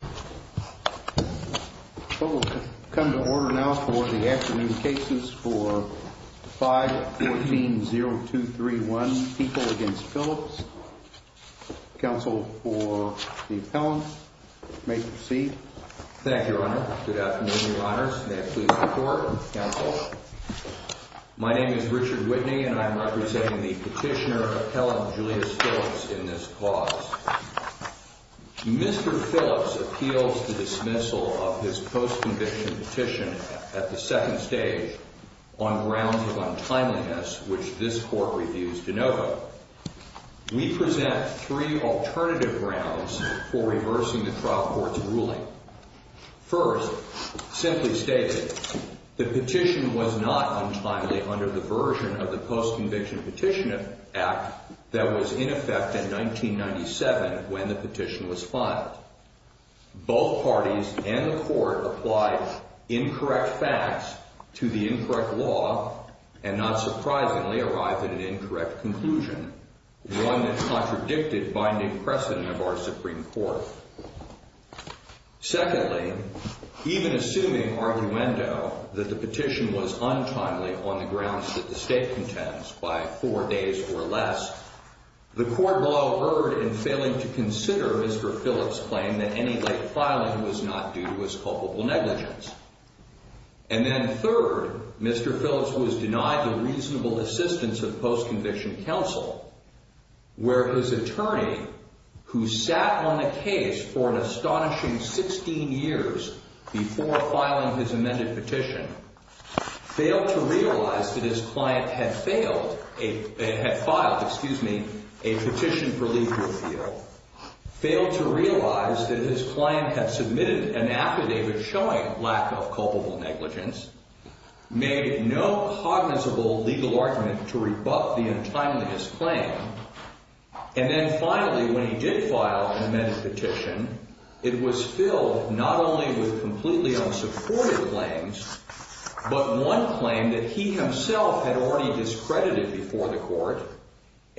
514-0231, People v. Phillips, counsel for the appellant, you may proceed. Thank you, Your Honor. Good afternoon, Your Honors. May I please report, counsel? My name is Richard Whitney, and I am representing the petitioner, appellant Julius Phillips, in this clause. Mr. Phillips appeals the dismissal of his post-conviction petition at the second stage on grounds of untimeliness, which this court reviews de novo. We present three alternative grounds for reversing the trial court's ruling. First, simply stated, the petition was not untimely under the version of the Post-Conviction Petition Act that was in effect in 1997 when the petition was filed. Both parties and the court applied incorrect facts to the incorrect law and not surprisingly arrived at an incorrect conclusion, one that contradicted binding precedent of our Supreme Court. Secondly, even assuming arguendo that the petition was untimely on the grounds that the State contends by four days or less, the court law erred in failing to consider Mr. Phillips' claim that any late filing was not due to his culpable negligence. And then third, Mr. Phillips was denied the reasonable assistance of post-conviction counsel, where his attorney, who sat on the case for an astonishing 16 years before filing his amended petition, failed to realize that his client had filed a petition for legal appeal, failed to realize that his client had submitted an affidavit showing lack of culpable negligence, made no cognizable legal argument to rebut the untimeliest claim, and then finally, when he did file an amended petition, it was filled not only with completely unsupported claims, but one claim that he himself had already discredited before the court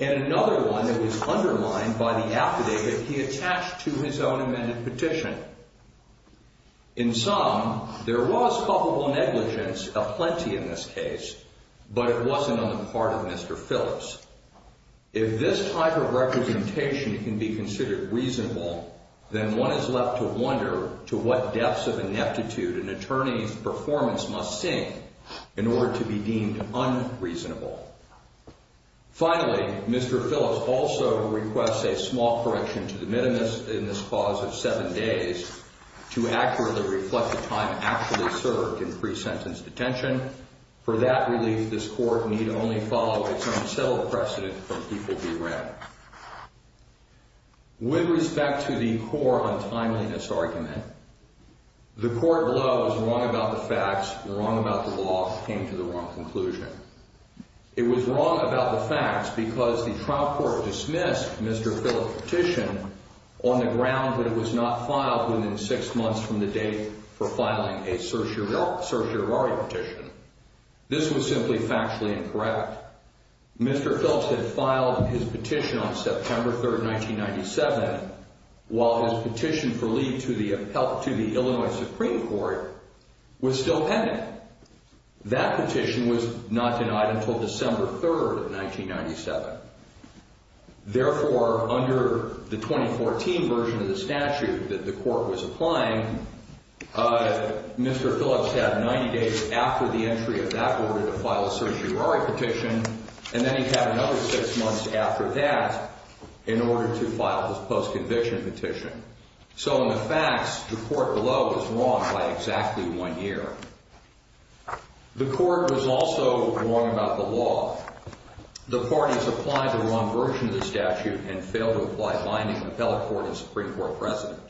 and another one that was undermined by the affidavit he attached to his own amended petition. In sum, there was culpable negligence aplenty in this case, but it wasn't on the part of Mr. Phillips. If this type of representation can be considered reasonable, then one is left to wonder to what depths of ineptitude an attorney's performance must sink in order to be deemed unreasonable. Finally, Mr. Phillips also requests a small correction to the minimus in this clause of seven days to accurately reflect the time actually served in pre-sentence detention. For that relief, this court need only follow its own civil precedent from people he ran. With respect to the core untimeliness argument, the court below was wrong about the facts and wrong about the law and came to the wrong conclusion. It was wrong about the facts because the trial court dismissed Mr. Phillips' petition on the ground that it was not filed within six months from the date for filing a certiorari petition. This was simply factually incorrect. Mr. Phillips had filed his petition on September 3, 1997, while his petition for leave to the Illinois Supreme Court was still pending. That petition was not denied until December 3, 1997. Therefore, under the 2014 version of the statute that the court was applying, Mr. Phillips had 90 days after the entry of that order to file a certiorari petition, and then he had another six months after that in order to file his post-conviction petition. So in the facts, the court below was wrong by exactly one year. The court was also wrong about the law. The parties applied the wrong version of the statute and failed to apply binding appellate court and Supreme Court precedent.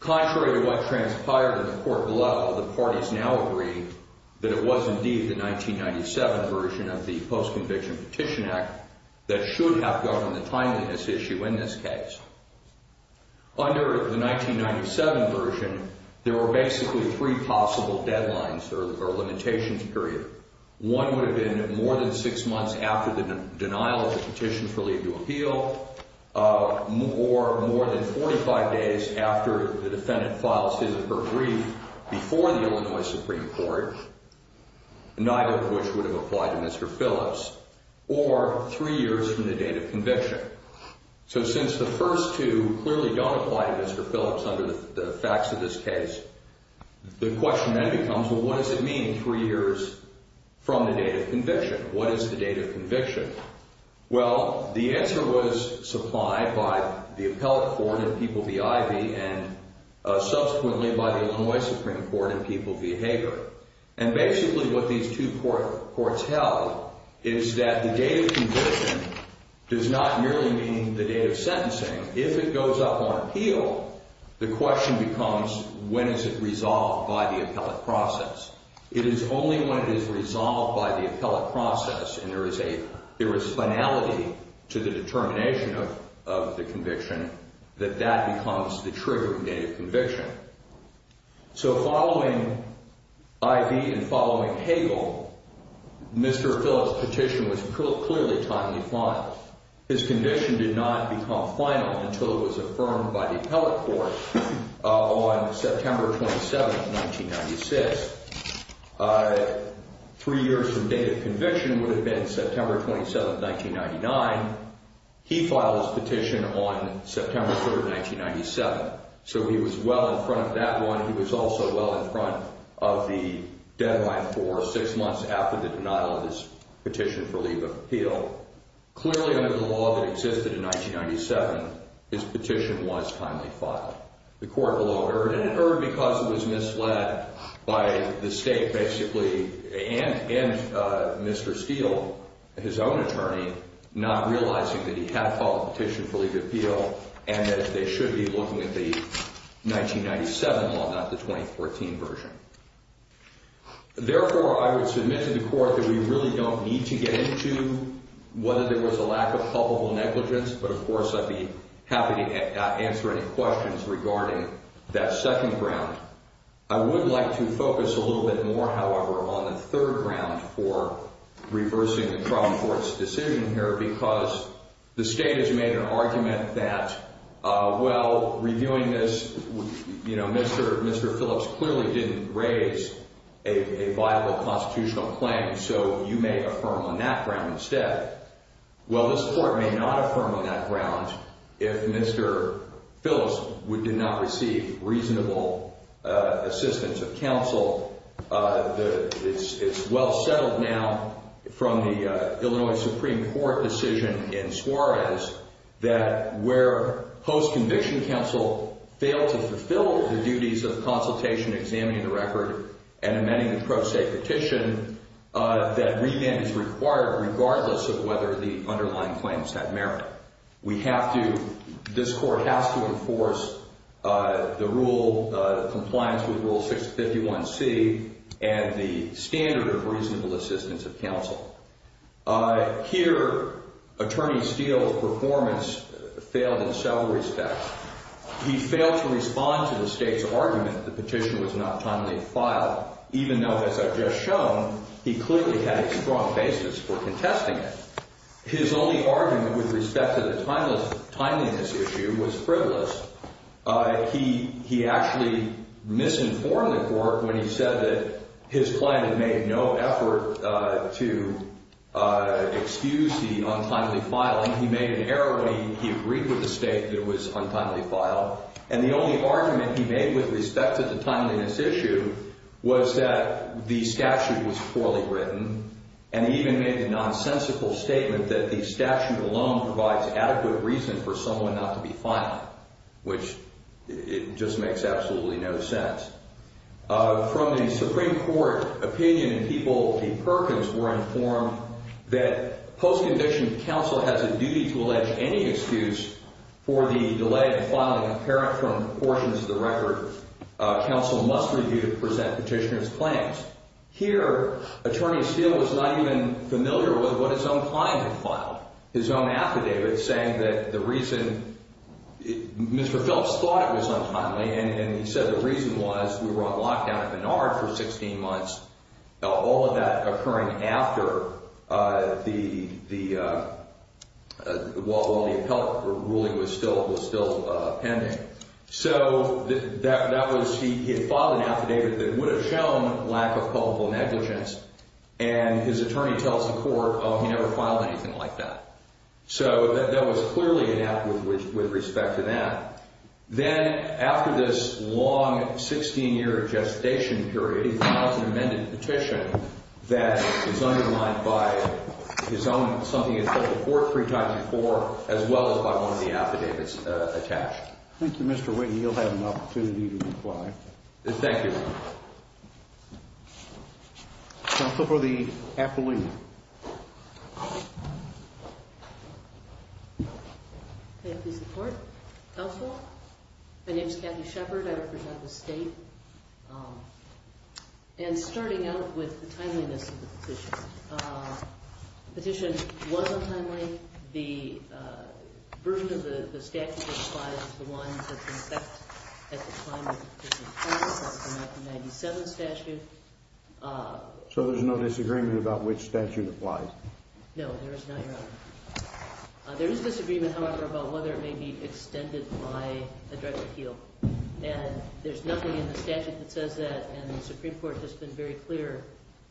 Contrary to what transpired in the court below, the parties now agree that it was indeed the 1997 version of the Post-Conviction Petition Act that should have governed the timeliness issue in this case. Under the 1997 version, there were basically three possible deadlines or limitations period. One would have been more than six months after the denial of the petition for leave to appeal, or more than 45 days after the defendant filed his or her brief before the Illinois Supreme Court, neither of which would have applied to Mr. Phillips, or three years from the date of conviction. So since the first two clearly don't apply to Mr. Phillips under the facts of this case, the question then becomes, well, what does it mean three years from the date of conviction? What is the date of conviction? Well, the answer was supplied by the appellate court in People v. Ivey and subsequently by the Illinois Supreme Court in People v. Hager. And basically what these two courts held is that the date of conviction does not merely mean the date of sentencing. If it goes up on appeal, the question becomes, when is it resolved by the appellate process? It is only when it is resolved by the appellate process and there is finality to the determination of the conviction that that becomes the trigger date of conviction. So following Ivey and following Hagel, Mr. Phillips' petition was clearly timely filed. His conviction did not become final until it was affirmed by the appellate court on September 27, 1996. Three years from date of conviction would have been September 27, 1999. He filed his petition on September 3, 1997. So he was well in front of that one. He was also well in front of the deadline for six months after the denial of his petition for leave of appeal. Clearly under the law that existed in 1997, his petition was timely filed. The court alone heard, and it heard because it was misled by the state basically and Mr. Steele, his own attorney, not realizing that he had filed a petition for leave of appeal and that they should be looking at the 1997 law, not the 2014 version. Therefore, I would submit to the court that we really don't need to get into whether there was a lack of culpable negligence, but of course I'd be happy to answer any questions regarding that second ground. I would like to focus a little bit more, however, on the third ground for reversing the trial court's decision here because the state has made an argument that, well, reviewing this, you know, Mr. Phillips clearly didn't raise a viable constitutional claim, so you may affirm on that ground instead. Well, this court may not affirm on that ground if Mr. Phillips did not receive reasonable assistance of counsel. It's well settled now from the Illinois Supreme Court decision in Suarez that where post-conviction counsel failed to fulfill the duties of consultation, examining the record, and amending the pro se petition, that remand is required regardless of whether the underlying claims had merit. We have to – this court has to enforce the rule – compliance with Rule 651C and the standard of reasonable assistance of counsel. Here, Attorney Steele's performance failed in several respects. He failed to respond to the state's argument that the petition was not timely filed, even though, as I've just shown, he clearly had a strong basis for contesting it. His only argument with respect to the timeliness issue was frivolous. He actually misinformed the court when he said that his client had made no effort to excuse the untimely filing. He made an error when he agreed with the state that it was untimely filed. And the only argument he made with respect to the timeliness issue was that the statute was poorly written. And he even made the nonsensical statement that the statute alone provides adequate reason for someone not to be filed, which – it just makes absolutely no sense. From the Supreme Court opinion, people – the Perkins were informed that post-condition counsel has a duty to allege any excuse for the delay in filing apparent from portions of the record. Counsel must review to present petitioner's claims. Here, Attorney Steele was not even familiar with what his own client had filed, his own affidavit, saying that the reason – Mr. Phelps thought it was untimely. And he said the reason was we were on lockdown at Menard for 16 months, all of that occurring after the – while the appellate ruling was still pending. So that was – he had filed an affidavit that would have shown lack of probable negligence, and his attorney tells the court, oh, he never filed anything like that. So that was clearly inept with respect to that. Then, after this long 16-year gestation period, he files an amended petition that is underlined by his own – something he told the court three times before, as well as by one of the affidavits attached. Thank you, Mr. Witten. You'll have an opportunity to reply. Thank you. Counsel for the appellee. Thank you. Thank you, support. Also, my name is Kathy Shepard. I represent the state. And starting out with the timeliness of the petition. The petition was untimely. The version of the statute that applies is the one that's in effect at the time of the petition. That's the 1997 statute. So there's no disagreement about which statute applies? No, there is not, Your Honor. There is disagreement, however, about whether it may be extended by a direct appeal. And there's nothing in the statute that says that, and the Supreme Court has been very clear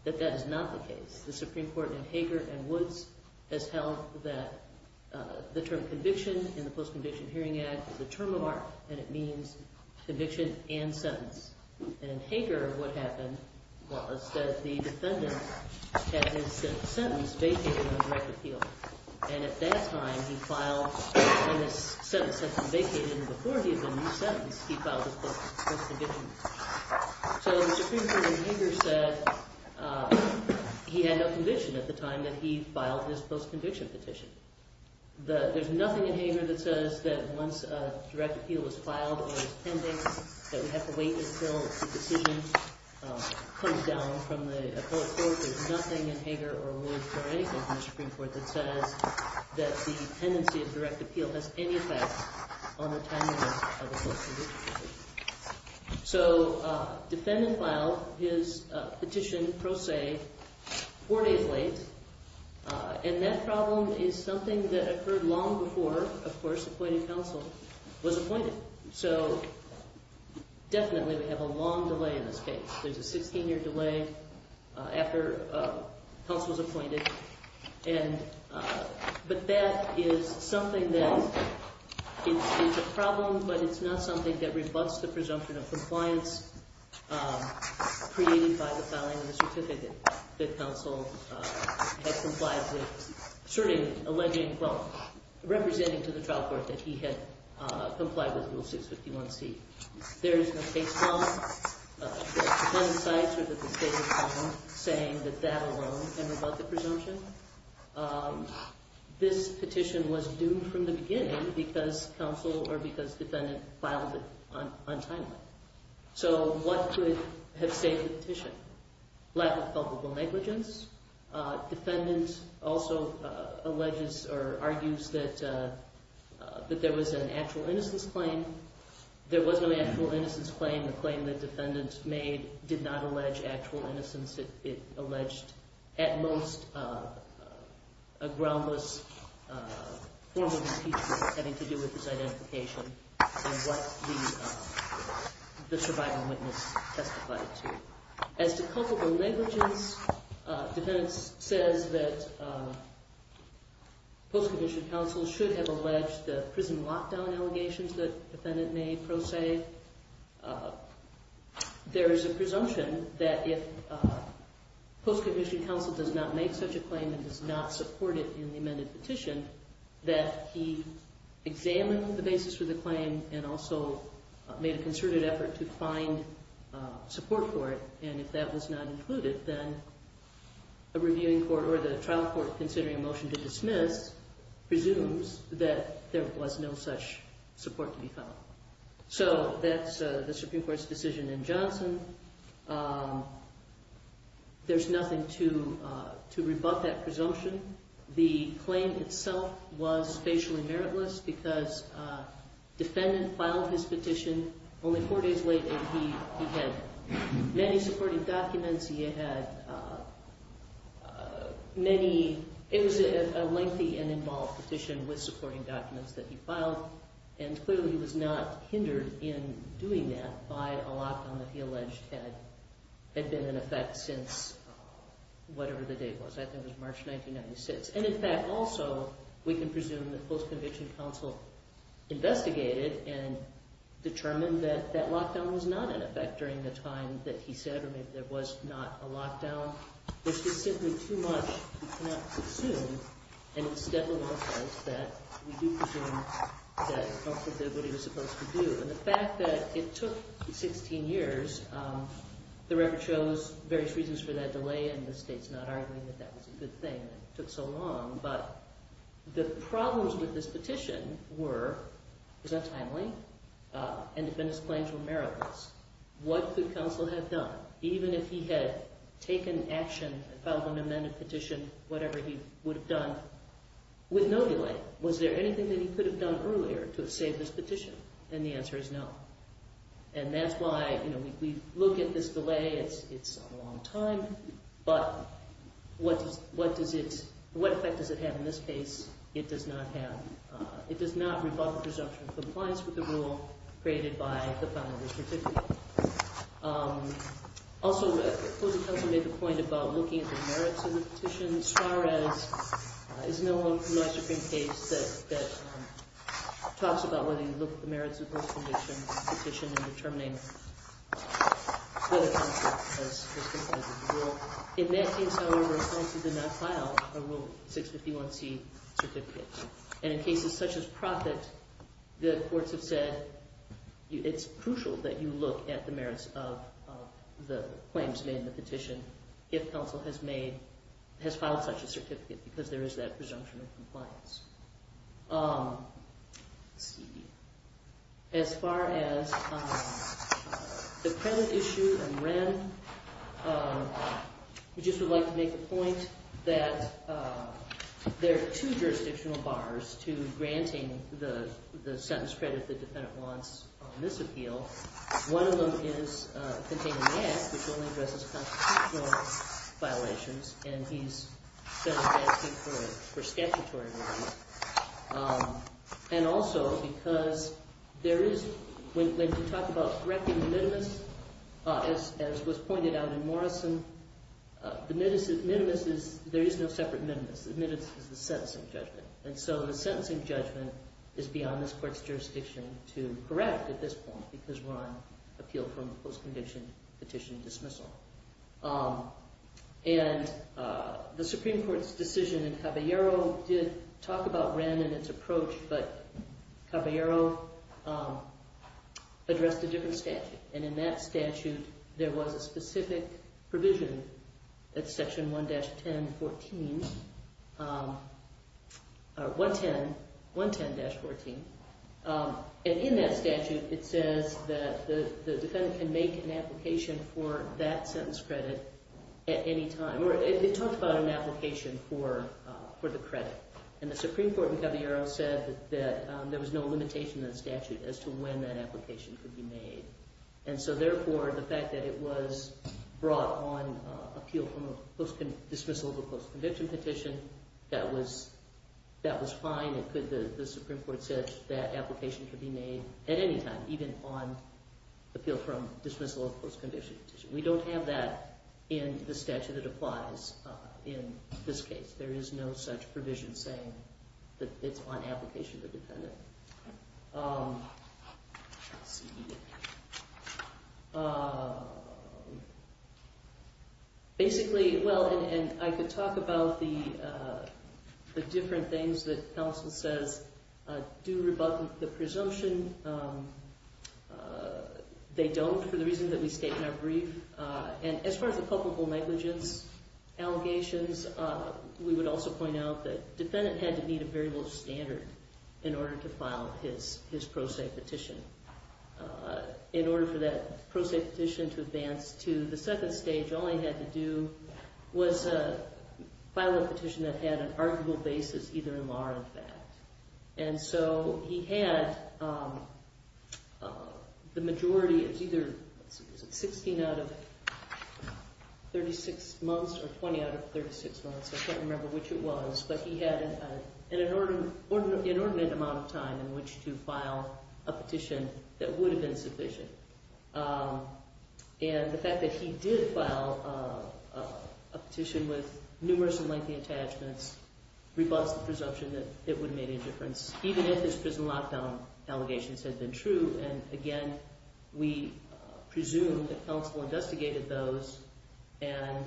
that that is not the case. The Supreme Court in Hager and Woods has held that the term conviction in the Post-Conviction Hearing Act is a term of art, and it means conviction and sentence. And in Hager, what happened was that the defendant had his sentence vacated on a direct appeal. And at that time, he filed, when his sentence had been vacated and before he had been re-sentenced, he filed his post-conviction. So the Supreme Court in Hager said he had no conviction at the time that he filed his post-conviction petition. There's nothing in Hager that says that once a direct appeal is filed or is pending that we have to wait until the decision comes down from the appellate court. There's nothing in Hager or Woods or anything in the Supreme Court that says that the tendency of direct appeal has any effect on the timeliness of a post-conviction hearing. So defendant filed his petition pro se four days late, and that problem is something that occurred long before, of course, appointing counsel was appointed. So definitely we have a long delay in this case. There's a 16-year delay after counsel was appointed, but that is something that is a problem, but it's not something that rebuts the presumption of compliance created by the filing of the certificate that counsel had complied with, certainly alleging, well, representing to the trial court that he had complied with Rule 651C. There is no case file that defendant cites or that the state has found saying that that alone can rebut the presumption. This petition was due from the beginning because counsel or because defendant filed it untimely. So what could have saved the petition? Lack of culpable negligence. Defendant also alleges or argues that there was an actual innocence claim. There was no actual innocence claim. The claim that defendant made did not allege actual innocence. It alleged at most a groundless form of impeachment having to do with his identification and what the survival witness testified to. As to culpable negligence, defendant says that post-commissioned counsel should have alleged the prison lockdown allegations that defendant made, pro se. There is a presumption that if post-commissioned counsel does not make such a claim and does not support it in the amended petition, that he examined the basis for the claim and also made a concerted effort to find support for it. And if that was not included, then a reviewing court or the trial court considering a motion to dismiss presumes that there was no such support to be found. So that's the Supreme Court's decision in Johnson. There's nothing to rebut that presumption. The claim itself was facially meritless because defendant filed his petition only four days later. He had many supporting documents. He had many – it was a lengthy and involved petition with supporting documents that he filed. And clearly he was not hindered in doing that by a lockdown that he alleged had been in effect since whatever the date was. I think it was March 1996. And, in fact, also we can presume that post-conviction counsel investigated and determined that that lockdown was not in effect during the time that he said, or maybe there was not a lockdown, which is simply too much to assume. And it's definitely the case that we do presume that counsel did what he was supposed to do. And the fact that it took 16 years, the record shows various reasons for that delay, and the State's not arguing that that was a good thing that it took so long. But the problems with this petition were it was untimely, and defendant's claims were meritless. What could counsel have done? Even if he had taken action and filed an amended petition, whatever he would have done, with no delay, was there anything that he could have done earlier to have saved this petition? And the answer is no. And that's why, you know, we look at this delay. It's a long time. But what does it – what effect does it have in this case? It does not have – it does not rebut the presumption of compliance with the rule created by the Founder of the Certificate. Also, Closing Counsel made the point about looking at the merits of the petition. Suarez is no one from the last Supreme Case that talks about whether you look at the merits of both the petition and determining whether counsel has complied with the rule. In that case, however, counsel did not file a Rule 651C certificate. And in cases such as Profitt, the courts have said it's crucial that you look at the merits of the claims made in the petition if counsel has made – has filed such a certificate because there is that presumption of compliance. Let's see. As far as the credit issue and Wren, we just would like to make a point that there are two jurisdictional bars to granting the sentence credit the defendant wants on this appeal. One of them is containing the act, which only addresses constitutional violations, and he's been asking for it for statutory reasons. And also because there is – when you talk about correcting the minimus, as was pointed out in Morrison, the minimus is – there is no separate minimus. The minimus is the sentencing judgment. And so the sentencing judgment is beyond this court's jurisdiction to correct at this point because we're on appeal from post-conviction petition dismissal. And the Supreme Court's decision in Caballero did talk about Wren and its approach, but Caballero addressed a different statute. And in that statute, there was a specific provision at section 1-10-14 – or 1-10 – 1-10-14. And in that statute, it says that the defendant can make an application for that sentence credit at any time, or it talked about an application for the credit. And the Supreme Court in Caballero said that there was no limitation in the statute as to when that application could be made. And so therefore, the fact that it was brought on appeal from a dismissal of a post-conviction petition, that was fine. It could – the Supreme Court said that application could be made at any time, even on appeal from dismissal of a post-conviction petition. We don't have that in the statute that applies in this case. There is no such provision saying that it's on application of the defendant. Basically – well, and I could talk about the different things that counsel says do rebut the presumption. They don't, for the reason that we state in our brief. And as far as the culpable negligence allegations, we would also point out that the defendant had to meet a very low standard in order to file his pro se petition. In order for that pro se petition to advance to the second stage, all he had to do was file a petition that had an arguable basis, either in law or in fact. And so he had the majority of either 16 out of 36 months or 20 out of 36 months. I can't remember which it was, but he had an inordinate amount of time in which to file a petition that would have been sufficient. And the fact that he did file a petition with numerous and lengthy attachments rebuts the presumption that it would have made any difference, even if his prison lockdown allegations had been true. And again, we presume that counsel investigated those and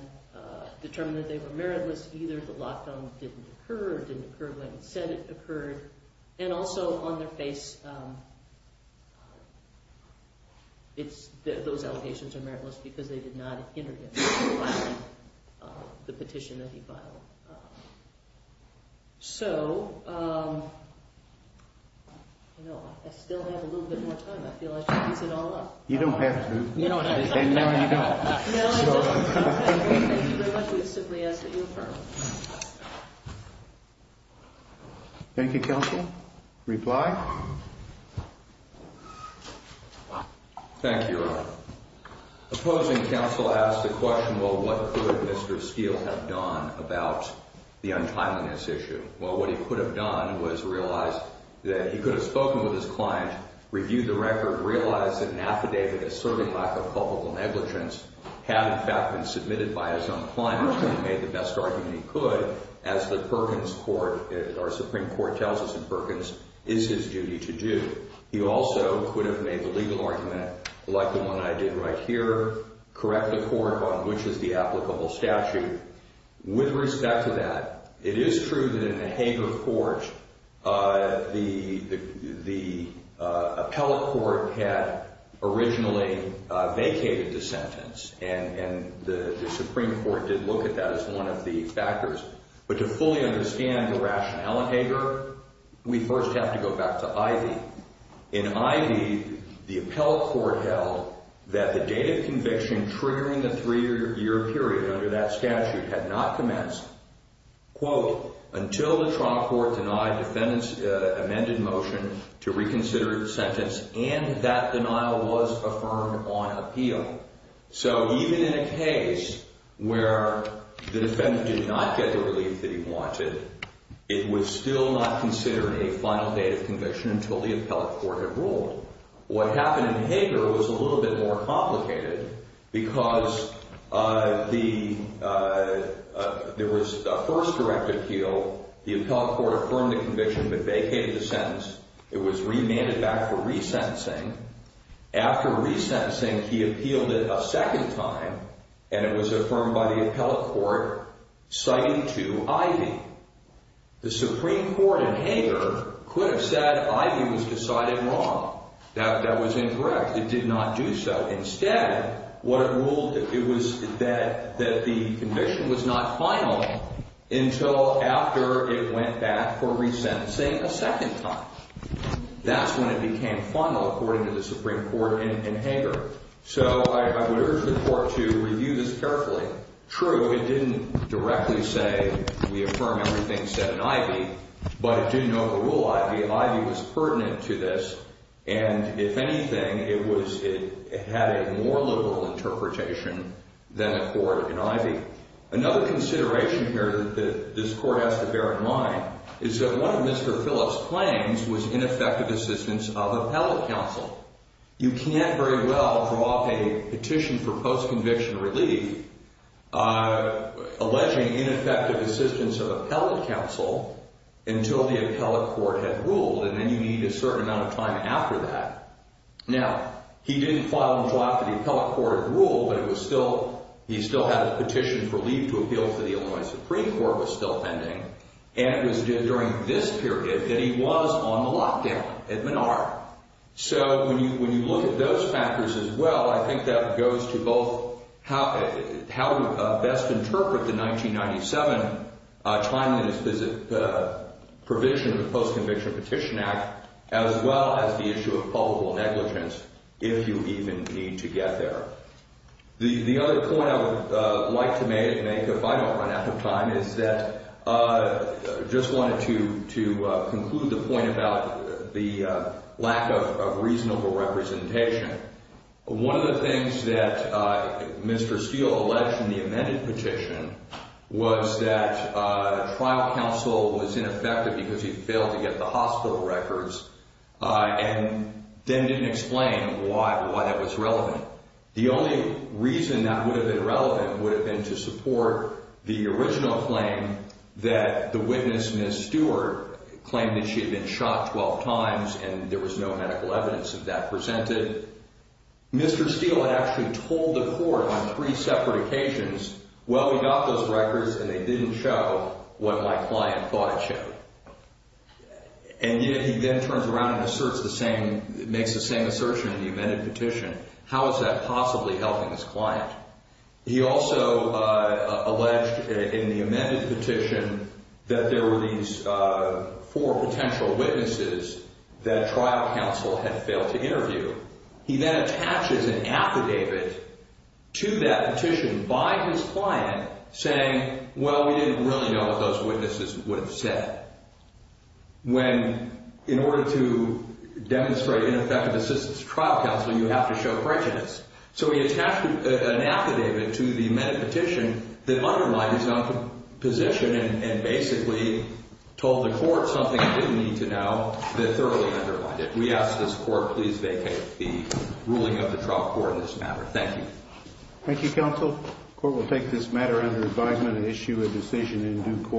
determined that they were meritless. Either the lockdown didn't occur or didn't occur when it said it occurred. And also on their face, those allegations are meritless because they did not interdict the petition that he filed. So, I still have a little bit more time. I feel I should piece it all up. You don't have to. No, you don't. Thank you very much. Thank you, counsel. Reply. Thank you. Opposing counsel asked the question, well, what could Mr. Steele have done about the untimeliness issue? Well, what he could have done was realize that he could have spoken with his client, reviewed the record, realized that an affidavit asserting lack of public negligence had, in fact, been submitted by his own client, and made the best argument he could, as the Perkins court, our Supreme Court tells us in Perkins, is his duty to do. He also could have made the legal argument, like the one I did right here, correct the court on which is the applicable statute. With respect to that, it is true that in the Hager court, the appellate court had originally vacated the sentence, and the Supreme Court did look at that as one of the factors. But to fully understand the rationale in Hager, we first have to go back to Ivey. In Ivey, the appellate court held that the date of conviction triggering the three-year period under that statute had not commenced, quote, until the trial court denied defendant's amended motion to reconsider the sentence and that denial was affirmed on appeal. So even in a case where the defendant did not get the relief that he wanted, it was still not considered a final date of conviction until the appellate court had ruled. What happened in Hager was a little bit more complicated because there was a first direct appeal. The appellate court affirmed the conviction but vacated the sentence. It was remanded back for resentencing. After resentencing, he appealed it a second time, and it was affirmed by the appellate court citing to Ivey. The Supreme Court in Hager could have said Ivey was decided wrong. That was incorrect. It did not do so. Instead, what it ruled, it was that the conviction was not final until after it went back for resentencing a second time. That's when it became final, according to the Supreme Court in Hager. So I would urge the court to review this carefully. True, it didn't directly say we affirm everything said in Ivey, but it did know the rule Ivey. Ivey was pertinent to this, and if anything, it had a more liberal interpretation than the court in Ivey. Another consideration here that this court has to bear in mind is that one of Mr. Phillips' claims was ineffective assistance of appellate counsel. You can't very well draw up a petition for post-conviction relief alleging ineffective assistance of appellate counsel until the appellate court had ruled, and then you need a certain amount of time after that. Now, he didn't file and draw up the appellate court rule, but he still had a petition for leave to appeal to the Illinois Supreme Court was still pending, and it was during this period that he was on the lockdown at Menard. So when you look at those factors as well, I think that goes to both how to best interpret the 1997 China's provision of the Post-Conviction Petition Act as well as the issue of probable negligence if you even need to get there. The other point I would like to make, if I don't run out of time, is that I just wanted to conclude the point about the lack of reasonable representation. One of the things that Mr. Steele alleged in the amended petition was that trial counsel was ineffective because he failed to get the hospital records and then didn't explain why that was relevant. The only reason that would have been relevant would have been to support the original claim that the witness, Ms. Stewart, claimed that she had been shot 12 times and there was no medical evidence of that presented. Mr. Steele had actually told the court on three separate occasions, well, we got those records and they didn't show what my client thought it showed. And yet he then turns around and asserts the same, makes the same assertion in the amended petition. How is that possibly helping his client? He also alleged in the amended petition that there were these four potential witnesses that trial counsel had failed to interview. He then attaches an affidavit to that petition by his client saying, well, we didn't really know what those witnesses would have said. When, in order to demonstrate ineffective assistance to trial counsel, you have to show prejudice. So he attached an affidavit to the amended petition that underlined his own position and basically told the court something it didn't need to know that thoroughly underlined it. We ask this court please vacate the ruling of the trial court on this matter. Thank you. Thank you, counsel. The court will take this matter under advisement and issue a decision in due course.